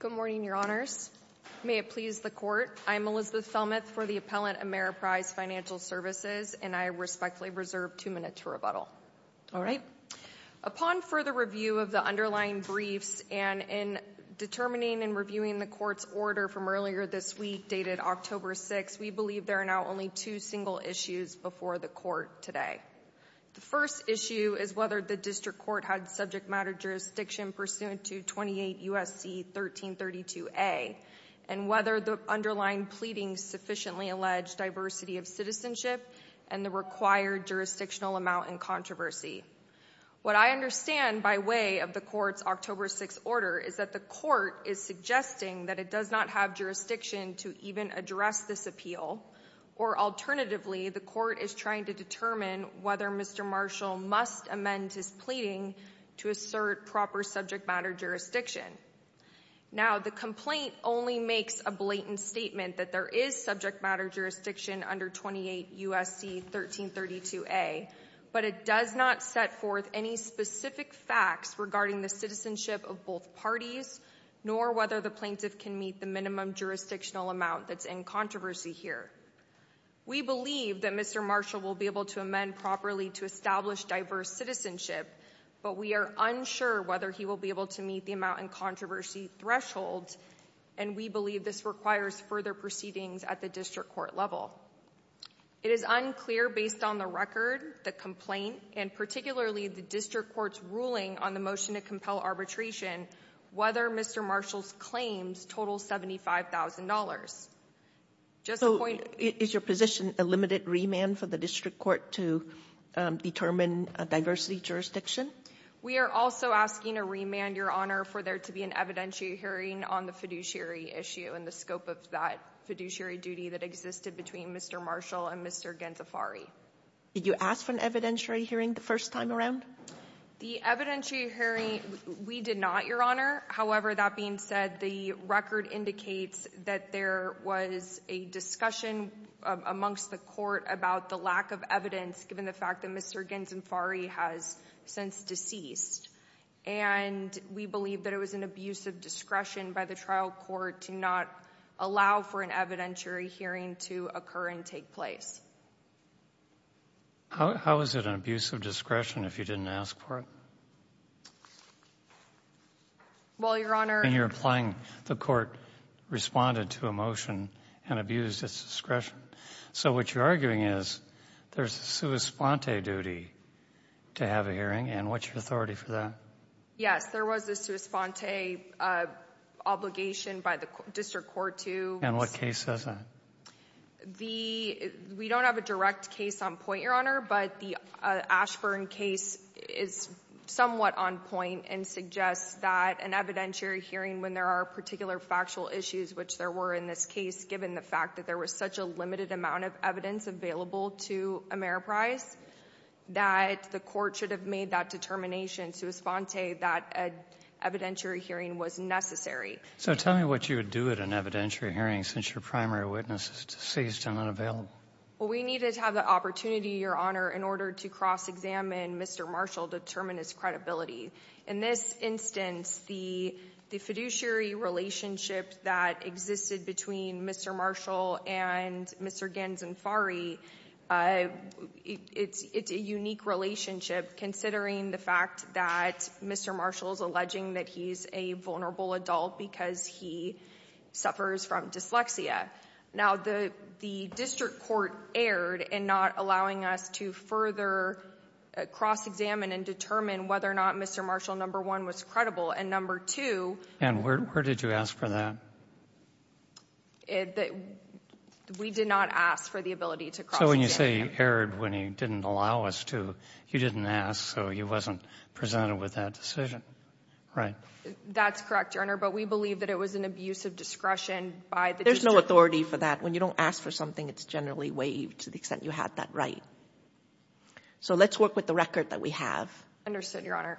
Good morning, Your Honors. May it please the Court, I'm Elizabeth Thelmuth for the Appellant Ameriprise Financial Services and I respectfully reserve two minutes for rebuttal. All right. Upon further review of the underlying briefs and in determining and reviewing the Court's order from earlier this week, dated October 6, we believe there are now only two single issues before the Court today. The first issue is whether the District Court had subject matter jurisdiction pursuant to 28 U.S.C. 1332a and whether the underlying pleading sufficiently alleged diversity of citizenship and the required jurisdictional amount in controversy. What I understand by way of the Court's October 6 order is that the Court is suggesting that it does not have jurisdiction to even address this appeal or alternatively the Court is trying to determine whether Mr. Marshall must amend his pleading to assert proper subject matter jurisdiction. Now the complaint only makes a blatant statement that there is subject matter jurisdiction under 28 U.S.C. 1332a but it does not set forth any specific facts regarding the citizenship of both parties nor whether the plaintiff can meet the minimum jurisdictional amount that's in controversy here. We believe that Mr. Marshall will be able to amend properly to establish diverse citizenship but we are unsure whether he will be able to meet the amount in controversy thresholds and we believe this requires further proceedings at the District Court level. It is unclear based on the record, the complaint, and particularly the District Court's ruling on the motion to compel arbitration whether Mr. Marshall's claims total $75,000. Just a point. Is your position a limited remand for the District Court to determine a diversity jurisdiction? We are also asking a remand, Your Honor, for there to be an evidentiary hearing on the fiduciary issue and the scope of that fiduciary duty that existed between Mr. Marshall and Mr. Ghentafari. Did you ask for an evidentiary hearing the first time around? The evidentiary hearing we did not, Your Honor. However, that being said, the record indicates that there was a discussion amongst the Court about the lack of evidence given the fact that Mr. Ghentafari has since deceased and we believe that it was an abuse of discretion by the trial court to not allow for an evidentiary hearing to occur and take place. How is it an abuse of discretion if you didn't ask for it? Well, Your Honor... And you're implying the court responded to a motion and abused its discretion. So what you're arguing is there's a sua sponte duty to have a hearing and what's your authority for that? Yes, there was a sua sponte obligation by the District Court to... And what case is that? We don't have a direct case on point, Your Honor, but the Ashburn case is somewhat on point and suggests that an evidentiary hearing, when there are particular factual issues, which there were in this case, given the fact that there was such a limited amount of evidence available to Ameriprise, that the court should have made that determination sua sponte that an evidentiary hearing was necessary. So tell me what you would do at an evidentiary hearing since your primary witness is deceased and unavailable? Well, we needed to have the opportunity, Your Honor, in order to cross-examine Mr. Marshall to determine his credibility. In this instance, the fiduciary relationship that existed between Mr. Marshall and Mr. Ganzenfari, it's a unique relationship considering the fact that Mr. Marshall is alleging that he's a vulnerable adult because he suffers from dyslexia. Now, the District Court erred in not allowing us to further cross-examine and determine whether or not Mr. Marshall, number one, was credible, and number two... And where did you ask for that? We did not ask for the ability to cross-examine. So when you say he erred when he didn't allow us to, you didn't ask, so he wasn't presented with that decision, right? That's correct, Your Honor, but we believe that it was an abuse of discretion by the District Court. There's no authority for that. When you don't ask for something, it's generally waived to the extent you had that right. So let's work with the record that we have. Understood, Your Honor.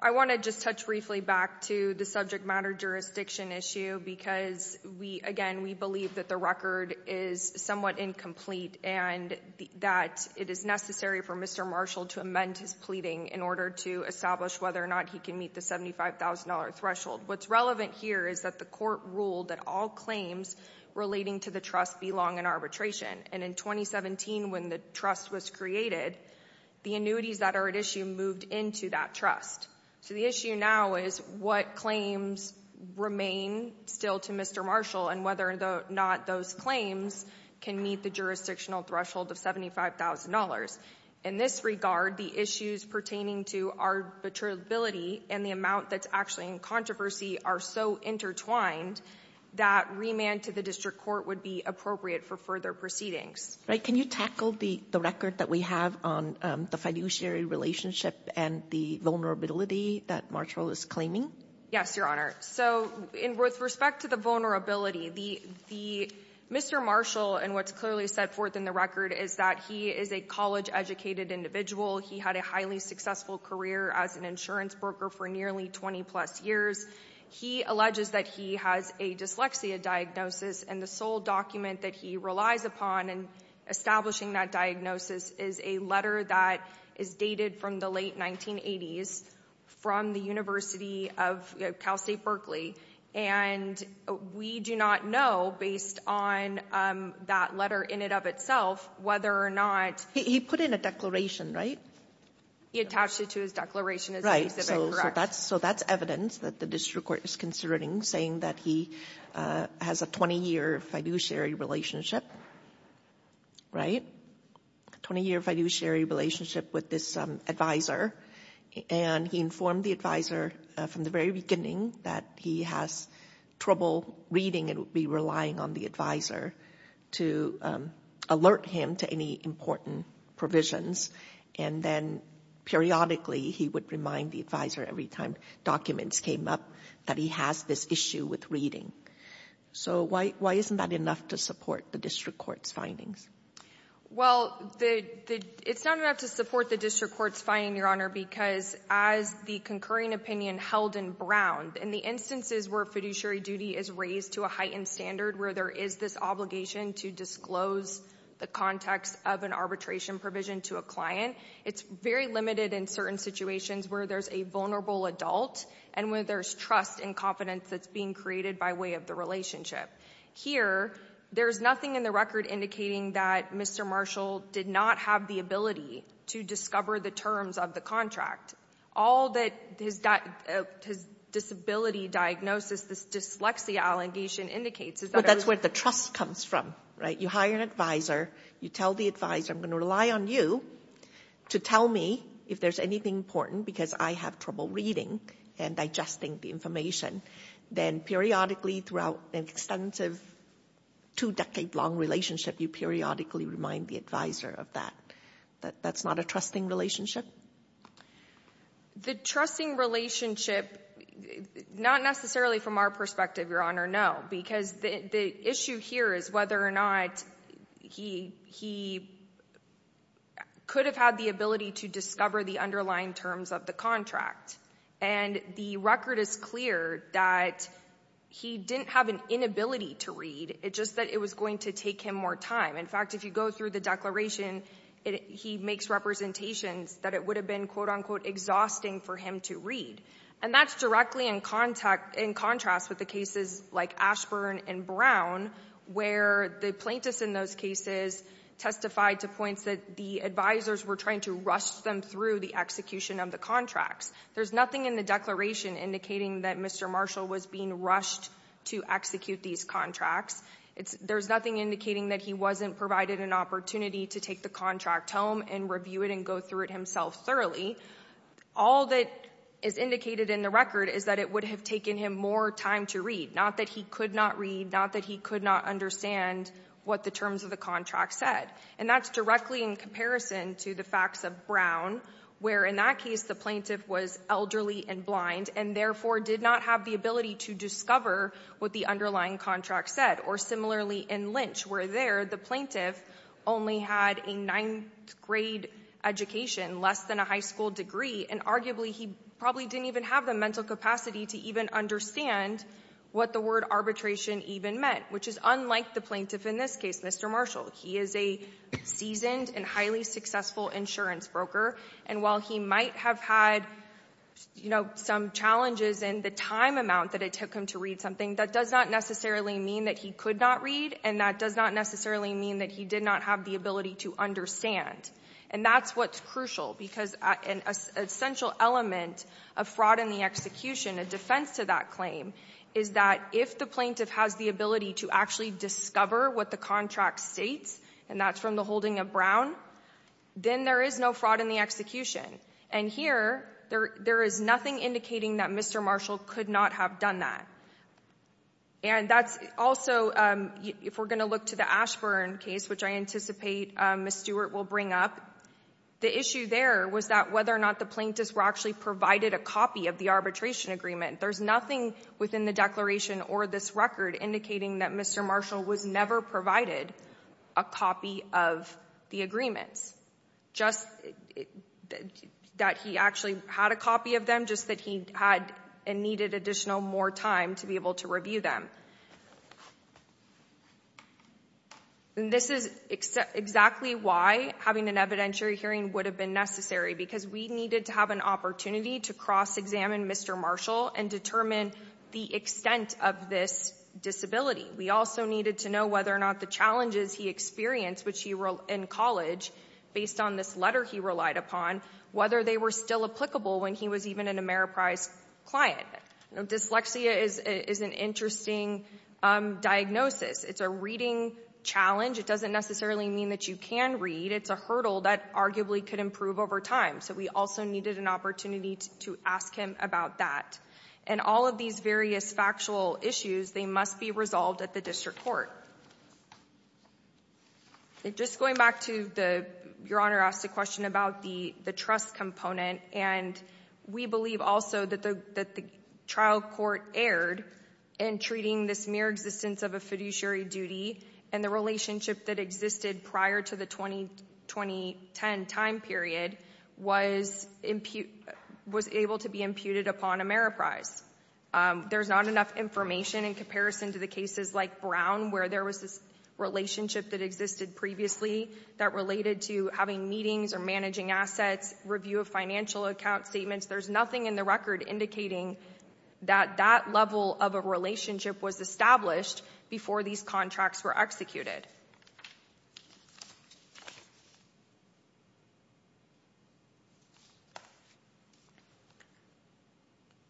I want to just touch briefly back to the subject matter jurisdiction issue because we, again, we believe that the record is somewhat incomplete and that it is necessary for Mr. Marshall to amend his pleading in order to establish whether or not he can meet the $75,000 threshold. What's relevant here is that the court ruled that all claims relating to the trust belong in arbitration, and in 2017, when the trust was created, the annuities that are at issue moved into that trust. So the issue now is what claims remain still to Mr. Marshall and whether or not those claims can meet the jurisdictional threshold of $75,000. In this regard, the issues pertaining to arbitrability and the amount that's actually in controversy are so intertwined that remand to the District Court would be appropriate for further proceedings. Right. Can you tackle the record that we have on the fiduciary relationship and the vulnerability that Marshall is claiming? Yes, Your Honor. So with respect to the vulnerability, Mr. Marshall, and what's clearly set forth in the record, is that he is a college-educated individual. He had a highly successful career as an insurance broker for nearly 20-plus years. He alleges that he has a dyslexia diagnosis, and the sole document that he relies upon in establishing that diagnosis is a letter that is dated from the late 1980s from the University of Cal State Berkeley. And we do not know, based on that letter in and of itself, whether or not he put in a declaration, right? He attached it to his declaration as an exhibit, correct? Right. So that's evidence that the District Court is considering, saying that he has a 20-year fiduciary relationship, right? A 20-year fiduciary relationship with this advisor, and he informed the advisor from the very beginning that he has trouble reading and would be relying on the advisor to alert him to any important provisions. And then periodically, he would remind the advisor every time documents came up that he has this issue with reading. So why isn't that enough to support the District Court's findings? Well, it's not enough to support the District Court's findings, Your Honor, because as the concurring opinion held in Brown, in the instances where fiduciary duty is raised to a heightened standard, where there is this obligation to disclose the context of an arbitration provision to a client, it's very limited in certain situations where there's a vulnerable adult and where there's trust and confidence that's being created by way of the relationship. Here, there's nothing in the case that Mr. Marshall did not have the ability to discover the terms of the contract. All that his disability diagnosis, this dyslexia allegation, indicates is that- But that's where the trust comes from, right? You hire an advisor, you tell the advisor, I'm going to rely on you to tell me if there's anything important because I have trouble reading and digesting the information. Then periodically throughout an extensive two-decade long relationship, you periodically remind the advisor of that. That's not a trusting relationship? The trusting relationship, not necessarily from our perspective, Your Honor, no, because the issue here is whether or not he could have had the ability to discover the underlying terms of the contract. And the record is clear that he didn't have an inability to read, it's just that it was going to take him more time. In fact, if you go through the declaration, he makes representations that it would have been, quote unquote, exhausting for him to read. And that's directly in contrast with the cases like Ashburn and Brown, where the plaintiffs in those cases testified to points that the advisors were trying to rush them through the execution of the contracts. There's nothing in the declaration indicating that Mr. Marshall was being rushed to execute these contracts. There's nothing indicating that he wasn't provided an opportunity to take the contract home and review it and go through it himself thoroughly. All that is indicated in the record is that it would have taken him more time to read, not that he could not read, not that he could not understand what the terms of the contract said. And that's directly in comparison to the facts of Brown, where in that case the plaintiff was elderly and blind, and therefore did not have the ability to discover what the underlying contract said. Or similarly in Lynch, where there the plaintiff only had a ninth grade education, less than a high school degree, and arguably he probably didn't even have the mental capacity to even understand what the word arbitration even meant, which is unlike the plaintiff in this case, Mr. Marshall. He is a seasoned and highly successful insurance broker, and while he might have had, you know, some challenges in the time amount that it took him to read something, that does not necessarily mean that he could not read, and that does not necessarily mean that he did not have the ability to understand. And that's what's crucial, because an essential element of fraud in the execution, a defense to that claim, is that if the plaintiff has the ability to actually discover what the contract states, and that's from the holding of then there is no fraud in the execution. And here, there is nothing indicating that Mr. Marshall could not have done that. And that's also, if we're going to look to the Ashburn case, which I anticipate Ms. Stewart will bring up, the issue there was that whether or not the plaintiffs were actually provided a copy of the arbitration agreement. There's nothing within the declaration or this record indicating that Mr. Marshall was never provided a copy of the agreements. Just that he actually had a copy of them, just that he had and needed additional more time to be able to review them. And this is exactly why having an evidentiary hearing would have been necessary, because we needed to have an opportunity to cross-examine Mr. Marshall and determine the extent of this disability. We also needed to know whether or not the challenges he experienced in college, based on this letter he relied upon, whether they were still applicable when he was even an Ameriprise client. Dyslexia is an interesting diagnosis. It's a reading challenge. It doesn't necessarily mean that you can read. It's a hurdle that arguably could improve over time. So we also needed an opportunity to ask him about that. And all of these various factual issues, they must be resolved at the district court. Just going back to your Honor asked a question about the trust component, and we believe also that the trial court erred in treating this mere existence of a fiduciary duty and the relationship that existed prior to the 2010 time period was able to be imputed upon Ameriprise. There's not enough information in comparison to the cases like Brown, where there was this relationship that existed previously that related to having meetings or managing assets, review of financial account statements. There's nothing in the record indicating that that level of a relationship was established before these contracts were executed.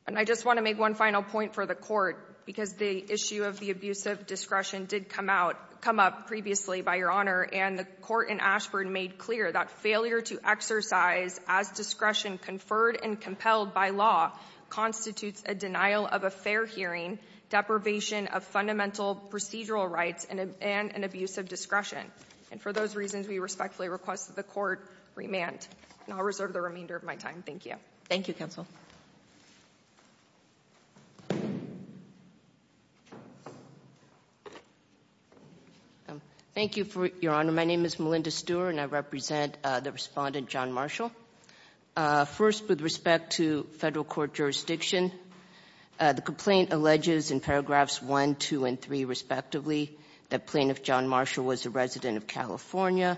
And I just want to make one final point for the court, because the issue of the abuse of discretion did come up previously by your Honor, and the court in Ashburn made clear that failure to exercise as discretion conferred and compelled by law constitutes a denial of a fair hearing, deprivation of fundamental procedural rights, and an abuse of discretion. And for those reasons, we respectfully request that the court remand. And I'll reserve the remainder of my time. Thank you. Thank you, counsel. Thank you, Your Honor. My name is Melinda Stewart, and I represent the respondent, John Marshall. First, with respect to federal court jurisdiction, the complaint alleges in paragraphs 1, 2, and 3, respectively, that plaintiff John Marshall was a resident of California,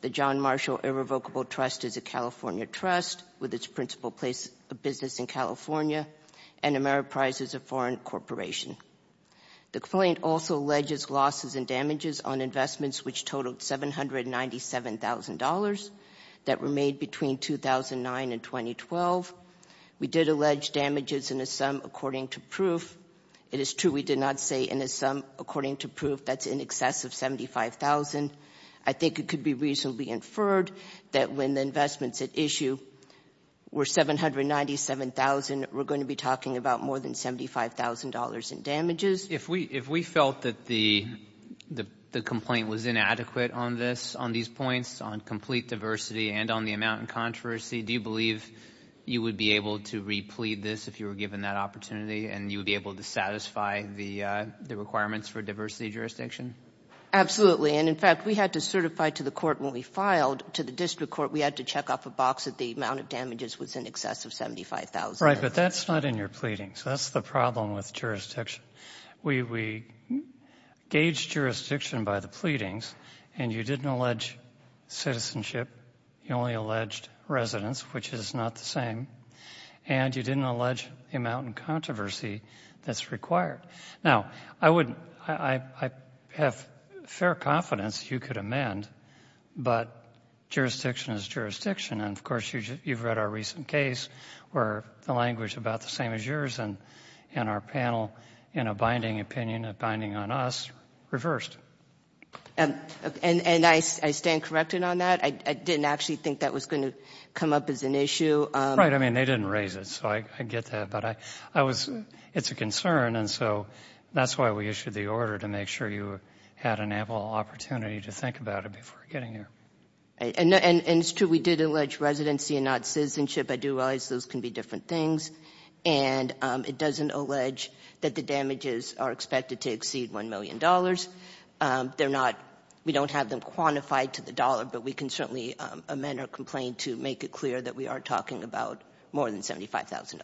that John Marshall Irrevocable Trust is a California trust with its principal place of business in California, and Ameriprise is a foreign corporation. The complaint also alleges losses and damages on investments which totaled $797,000 that were made between 2009 and 2012. We did allege damages in the sum according to proof. It is true we did not say in the sum according to proof that's in excess of $75,000. I think it could be reasonably inferred that when the investments at issue were $797,000, we're going to be talking about more than $75,000 in damages. If we felt that the complaint was inadequate on this, on these points, on complete diversity, and on the amount in controversy, do you believe you would be able to replead this if you were given that opportunity, and you would be able to satisfy the requirements for diversity jurisdiction? Absolutely. And, in fact, we had to certify to the court when we filed, to the district court, we had to check off a box that the amount of damages was in excess of $75,000. Right. But that's not in your pleading. So that's the problem with jurisdiction. We gauged jurisdiction by the pleadings, and you didn't allege citizenship. You only alleged residence, which is not the same. And you didn't allege the amount in controversy that's required. Now, I have fair confidence you could amend, but jurisdiction is jurisdiction. And, of course, you've read our recent case where the language is about the same as yours, and our panel, in a binding opinion, a binding on us, reversed. And I stand corrected on that. I didn't actually think that was going to come up as an issue. Right. I mean, they didn't raise it, so I get that. But I was, it's a concern, and so that's why we issued the order, to make sure you had an ample opportunity to think about it before getting here. And it's true, we did allege residency and not citizenship. I do realize those can be different things. And it doesn't allege that the damages are expected to exceed $1 million. They're not, we don't have them quantified to the dollar, but we can certainly amend or complain to make it clear that we are talking about more than $75,000.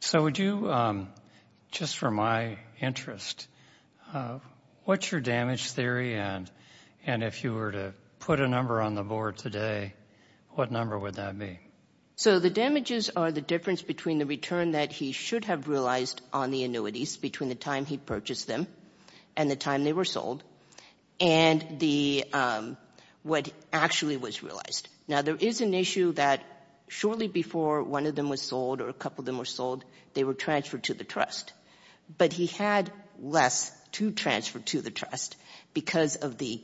So would you, just for my interest, what's your damage theory? And if you were to put a number on the board today, what number would that be? So the damages are the difference between the return that he should have realized on the annuities, between the time he purchased them and the time they were sold, and the, what actually was realized. Now, there is an issue that shortly before one of them was sold or a couple of them were sold, they were transferred to the trust. But he had less to transfer to the trust because of the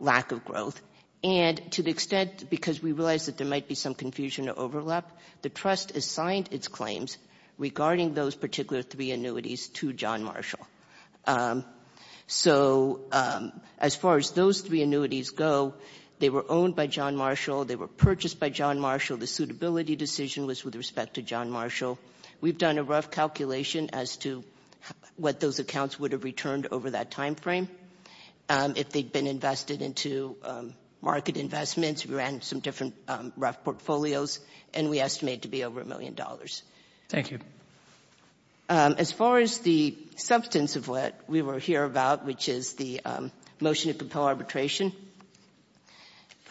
lack of growth. And to the extent, because we realized that there might be some confusion or overlap, the trust has signed its claims regarding those particular three annuities to John Marshall. So as far as those three annuities go, they were owned by John Marshall, they were purchased by John Marshall, the suitability decision was with respect to John Marshall. We've done a rough calculation as to what those accounts would have returned over that time frame. If they'd been invested into market investments, we ran some different rough portfolios, and we estimate to be over a million dollars. Thank you. As far as the substance of what we were here about, which is the motion to compel arbitration,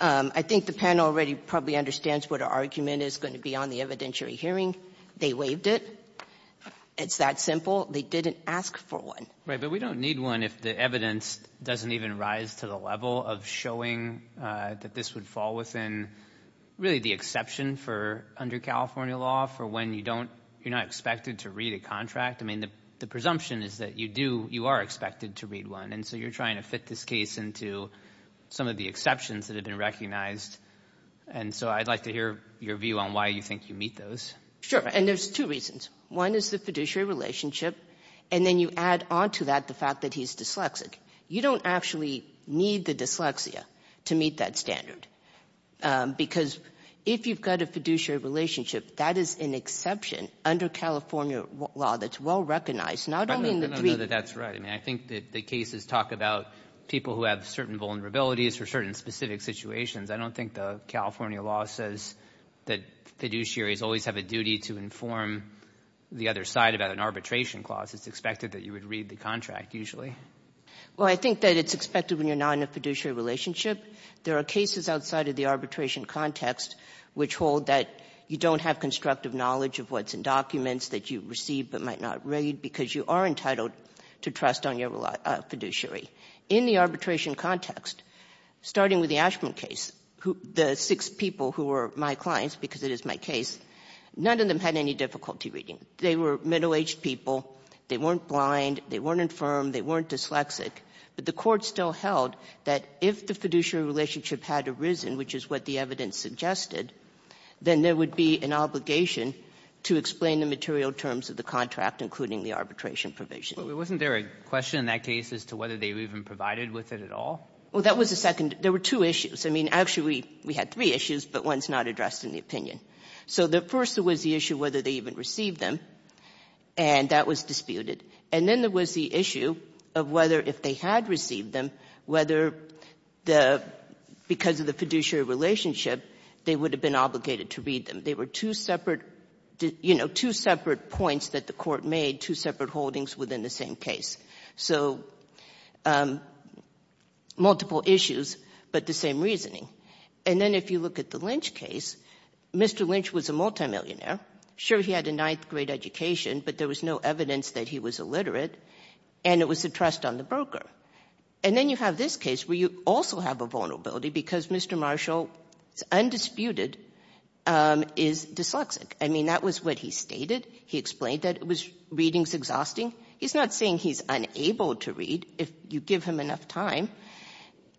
I think the panel already probably understands what our argument is going to be on the evidentiary hearing. They waived it. It's that simple. They didn't ask for one. Right, but we don't need one if the evidence doesn't even rise to the level of showing that this would fall within, really, the exception for under California law for when you don't, you're not expected to read a contract. I mean, the presumption is that you do, you are expected to read one. And so you're trying to fit this case into some of the exceptions that have been recognized. And so I'd like to hear your view on why you think you meet those. Sure. And there's two reasons. One is the fiduciary relationship. And then you add on to that the fact that he's dyslexic. You don't actually need the dyslexia to meet that standard. Because if you've got a fiduciary relationship, that is an exception under California law that's well recognized. I know that that's right. I mean, I think that the cases talk about people who have certain vulnerabilities for certain specific situations. I don't think the California law says that fiduciaries always have a duty to inform the other side about an arbitration clause. It's expected that you would read the contract, usually. Well, I think that it's expected when you're not in a fiduciary relationship. There are cases outside of the arbitration context which hold that you don't have constructive knowledge of what's in documents that you receive but might not read because you are entitled to trust on your fiduciary. In the arbitration context, starting with the Ashman case, the six people who were my clients, because it is my case, none of them had any difficulty reading. They were middle-aged people. They weren't blind. They weren't infirm. They weren't dyslexic. But the Court still held that if the fiduciary relationship had arisen, which is what the evidence suggested, then there would be an obligation to explain the material terms of the contract, including the arbitration provision. Wasn't there a question in that case as to whether they even provided with it at all? Well, that was the second. There were two issues. I mean, actually, we had three issues, but one's not addressed in the opinion. So the first was the issue whether they even received them, and that was disputed. And then there was the issue of whether if they had received them, whether the — because of the fiduciary relationship, they would have been obligated to read them. They were two separate — you know, two separate points that the Court made, two separate holdings within the same case. So multiple issues, but the same reasoning. And then if you look at the Lynch case, Mr. Lynch was a multimillionaire. Sure, he had a ninth-grade education, but there was no evidence that he was illiterate, and it was a trust on the broker. And then you have this case where you also have a vulnerability because Mr. Marshall, undisputed, is dyslexic. I mean, that was what he stated. He explained that it was — reading is exhausting. He's not saying he's unable to read. If you give him enough time,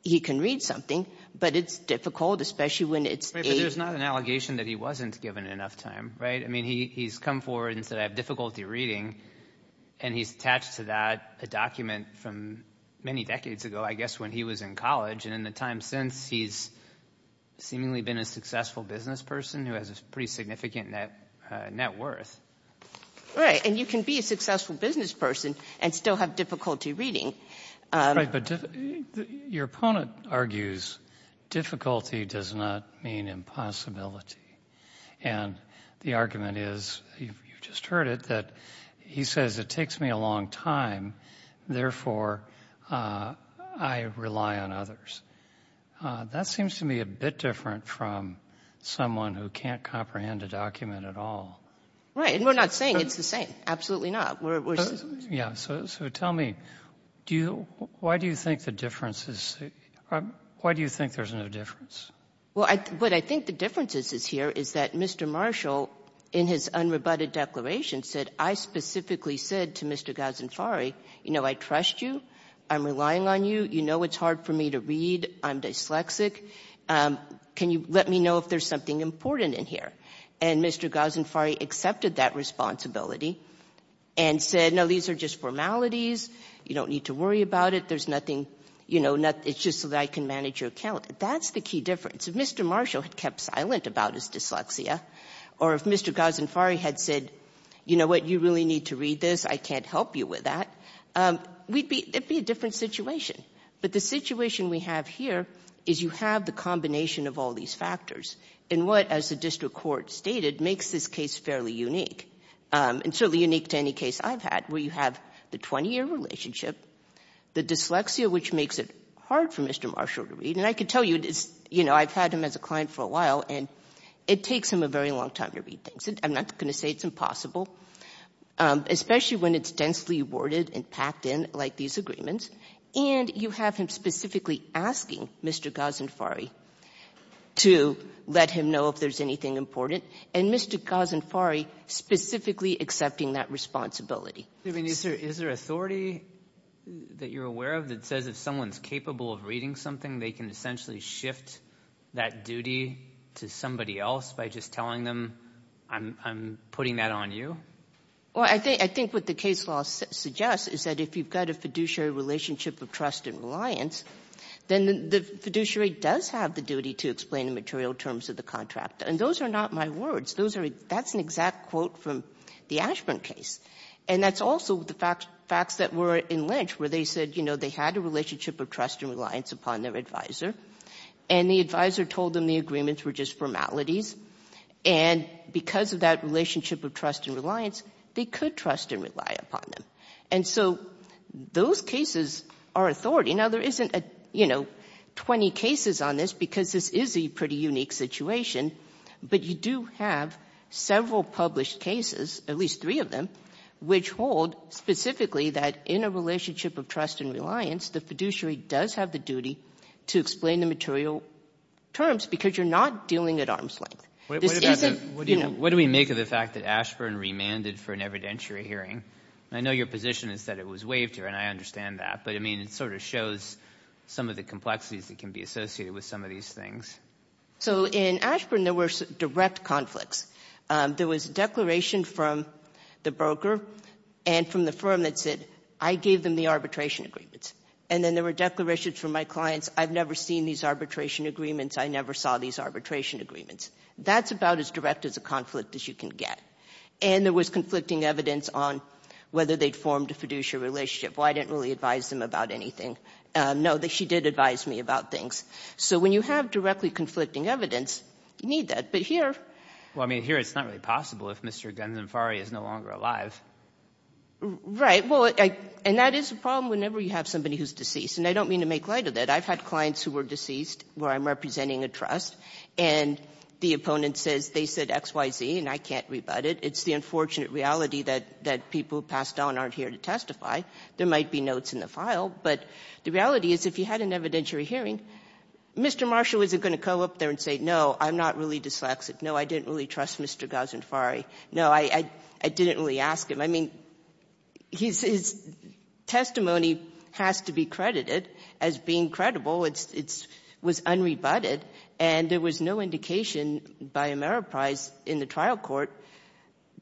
he can read something, but it's difficult, especially when it's — But there's not an allegation that he wasn't given enough time, right? I mean, he's come forward and said, I have difficulty reading, and he's attached to that a document from many decades ago, I guess when he was in college. And in the time since, he's been a successful business person who has a pretty significant net worth. Right. And you can be a successful business person and still have difficulty reading. Right. But your opponent argues difficulty does not mean impossibility. And the argument is — you just heard it — that he says it takes me a long time, therefore, I rely on others. That seems to me a bit different from someone who can't comprehend a document at all. Right. And we're not saying it's the same. Absolutely not. Yeah. So tell me, do you — why do you think the difference is — why do you think there's no difference? Well, what I think the difference is here is that Mr. Marshall, in his unrebutted declaration, said, I specifically said to Mr. Ghazanfari, you know, I trust you. I'm to read. I'm dyslexic. Can you let me know if there's something important in here? And Mr. Ghazanfari accepted that responsibility and said, no, these are just formalities. You don't need to worry about it. There's nothing — you know, it's just so that I can manage your account. That's the key difference. If Mr. Marshall had kept silent about his dyslexia or if Mr. Ghazanfari had said, you know what, you really need to read this. I can't help you with that, we'd be — it'd be a different situation. But the situation we have here is you have the combination of all these factors in what, as the district court stated, makes this case fairly unique and certainly unique to any case I've had, where you have the 20-year relationship, the dyslexia, which makes it hard for Mr. Marshall to read. And I can tell you, you know, I've had him as a client for a while, and it takes him a very long time to read things. I'm not going to say it's impossible, especially when it's densely worded and packed in like these agreements. And you have him specifically asking Mr. Ghazanfari to let him know if there's anything important, and Mr. Ghazanfari specifically accepting that responsibility. I mean, is there — is there authority that you're aware of that says if someone's capable of reading something, they can essentially shift that duty to somebody else by just telling them, I'm putting that on you? Well, I think what the case law suggests is that if you've got a fiduciary relationship of trust and reliance, then the fiduciary does have the duty to explain the material terms of the contract. And those are not my words. Those are — that's an exact quote from the Ashburn case. And that's also the facts that were in Lynch, where they said, you know, they had a relationship of trust and reliance upon their advisor, and the advisor told them the agreements were just formalities. And because of that relationship of trust and reliance, they could trust and rely upon them. And so those cases are authority. Now, there isn't, you know, 20 cases on this, because this is a pretty unique situation, but you do have several published cases, at least three of them, which hold specifically that in a relationship of trust and reliance, the fiduciary does have the duty to explain the material terms, because you're not dealing at arm's length. What do we make of the fact that Ashburn remanded for an evidentiary hearing? I know your position is that it was waived here, and I understand that, but, I mean, it sort of shows some of the complexities that can be associated with some of these things. So in Ashburn, there were direct conflicts. There was a declaration from the broker and from the firm that said, I gave them the arbitration agreements. And then there were declarations from my clients, I've never seen these arbitration agreements, I never saw these arbitration agreements. That's about as direct as a conflict as you can get. And there was conflicting evidence on whether they'd formed a fiduciary relationship. Well, I didn't really advise them about anything. No, she did advise me about things. So when you have directly conflicting evidence, you need that. But here — Right. Well, and that is a problem whenever you have somebody who's deceased. And I don't mean to make light of that. I've had clients who were deceased where I'm representing a trust, and the opponent says they said X, Y, Z, and I can't rebut it. It's the unfortunate reality that people who passed on aren't here to testify. There might be notes in the file. But the reality is, if you had an evidentiary hearing, Mr. Marshall isn't going to go up there and say, no, I'm not really dyslexic. No, I didn't really trust Mr. Ghazanfari. No, I didn't really ask him. I mean, his testimony has to be credited as being credible. It was unrebutted. And there was no indication by Ameriprise in the trial court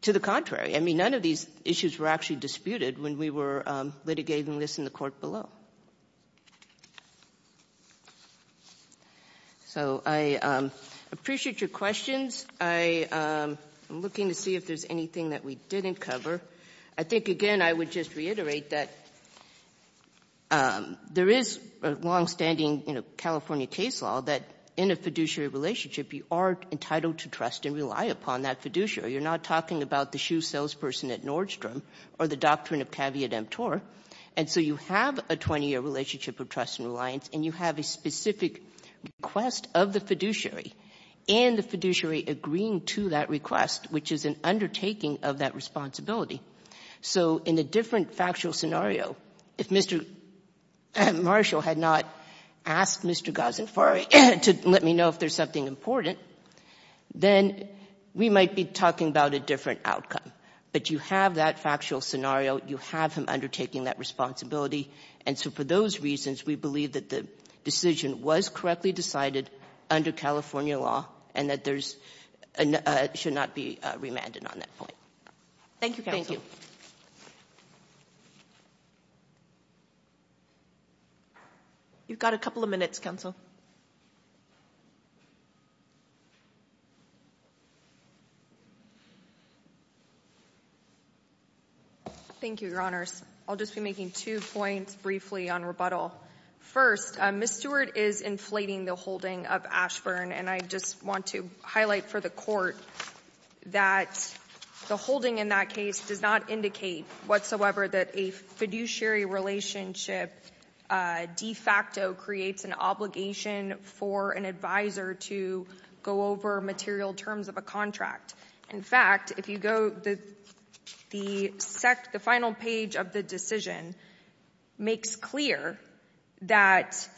to the contrary. I mean, none of these issues were actually disputed when we were litigating this in the court below. So I appreciate your questions. I'm looking to see if there's anything that we didn't cover. I think, again, I would just reiterate that there is a longstanding, you know, California case law that in a fiduciary relationship, you are entitled to trust and rely upon that fiduciary. You're not talking about the shoe salesperson at Nordstrom or the doctrine of caveat emptor. And so you have a 20-year relationship of trust and reliance, and you have a specific request of the fiduciary, and the fiduciary agreeing to that request, which is an undertaking of that responsibility. So in a different factual scenario, if Mr. Marshall had not asked Mr. Ghazanfari to let me know if there's something important, then we might be talking about a different outcome. But you have that factual scenario. You have him undertaking that responsibility. And so for those reasons, we believe that the decision was correctly decided under California law and that there's — should not be remanded on that point. Thank you, counsel. Thank you. You've got a couple of minutes, counsel. Thank you, Your Honors. I'll just be making two points briefly on rebuttal. First, Ms. Stewart is inflating the holding of Ashburn, and I just want to highlight for the Court that the holding in that case does not indicate whatsoever that a fiduciary relationship de facto creates an obligation for an advisor to go over material terms of a contract. In fact, if you go — the final page of the decision makes clear that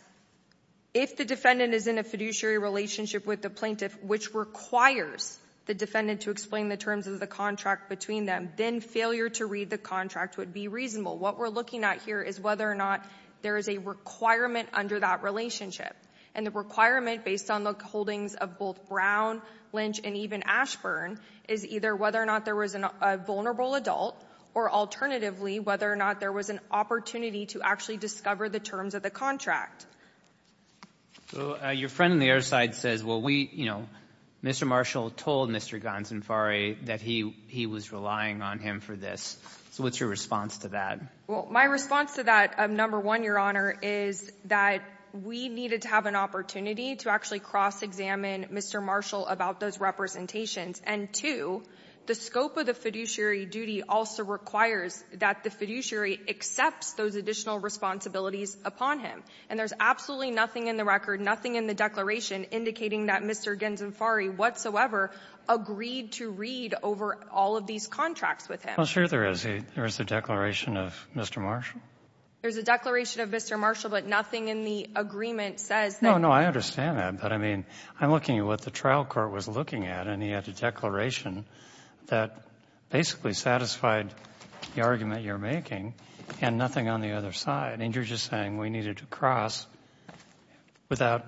if the defendant is in a fiduciary relationship with the plaintiff which requires the defendant to explain the terms of the contract between them, then failure to read the contract would be reasonable. What we're looking at here is whether or not there is a requirement under that relationship. And the requirement, based on the holdings of both Brown, Lynch, and even Ashburn, is either whether or not there was a vulnerable adult or, alternatively, whether or not there was an opportunity to actually discover the terms of the contract. So your friend on the other side says, well, we — you know, Mr. Marshall told Mr. Gonsanfare that he was relying on him for this. So what's your response to that? Well, my response to that, number one, Your Honor, is that we needed to have an opportunity to actually cross-examine Mr. Marshall about those representations. And, two, the scope of the fiduciary duty also requires that the fiduciary accepts those additional responsibilities upon him. And there's absolutely nothing in the record, nothing in the declaration, indicating that Mr. Gonsanfare whatsoever agreed to read over all of these contracts with him. Well, sure there is. There is a declaration of Mr. Marshall. There's a declaration of Mr. Marshall, but nothing in the agreement says that — No, no. I understand that. But, I mean, I'm looking at what the trial court was looking at, and he had a declaration that basically satisfied the argument you're making, and nothing on the other side. And you're just saying we needed to cross without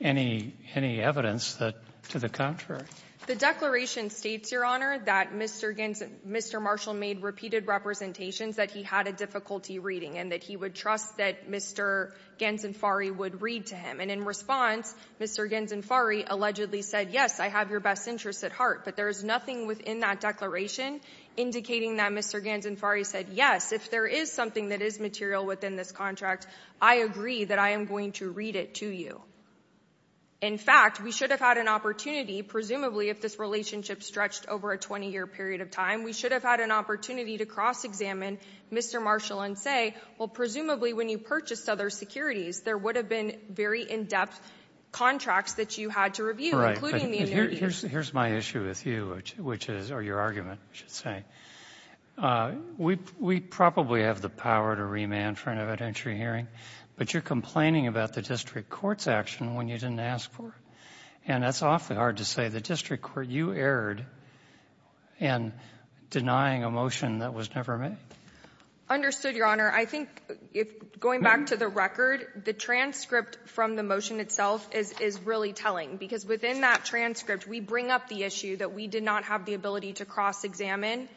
any evidence that, to the contrary. The declaration states, Your Honor, that Mr. Gonsan — Mr. Marshall made repeated representations that he had a difficulty reading, and that he would trust that Mr. Gonsanfare would read to him. And in response, Mr. Gonsanfare allegedly said, yes, I have your best interests at heart, but there is nothing within that declaration indicating that Mr. Gonsanfare said, yes, if there is something that is material within this contract, I agree that I am going to read it to you. In fact, we should have had an opportunity, presumably, if this relationship stretched over a 20-year period of time, we should have had an opportunity to cross-examine Mr. Marshall and say, well, presumably, when you purchased other securities, there would have been very in-depth contracts that you had to review, including the — But here's my issue with you, which is — or your argument, I should say. We probably have the power to remand for an evidentiary hearing, but you're complaining about the district court's action when you didn't ask for it. And that's awfully hard to say. The district court, you erred in denying a motion that was never made. Understood, Your Honor. I think, going back to the record, the transcript from the motion itself is really telling, because within that transcript, we bring up the issue that we did not have the ability to cross-examine.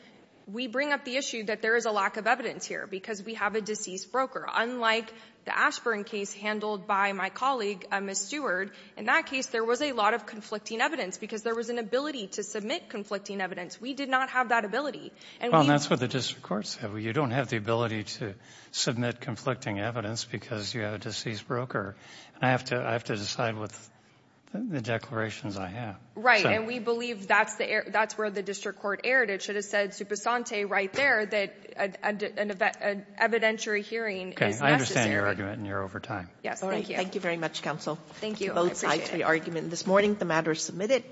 We bring up the issue that there is a lack of evidence here because we have a deceased broker. Unlike the Ashburn case handled by my colleague, Ms. Stewart, in that case, there was a lot of conflicting evidence because there was an ability to submit conflicting evidence. We did not have that ability. And we — Well, and that's what the district court said. You don't have the ability to submit conflicting evidence because you have a deceased broker. I have to decide with the declarations I have. And we believe that's where the district court erred. It should have said super sante right there that an evidentiary hearing is necessary. I understand your argument, and you're over time. Yes. Thank you. Thank you very much, counsel. Thank you. Both sides of the argument. This morning, the matter is submitted.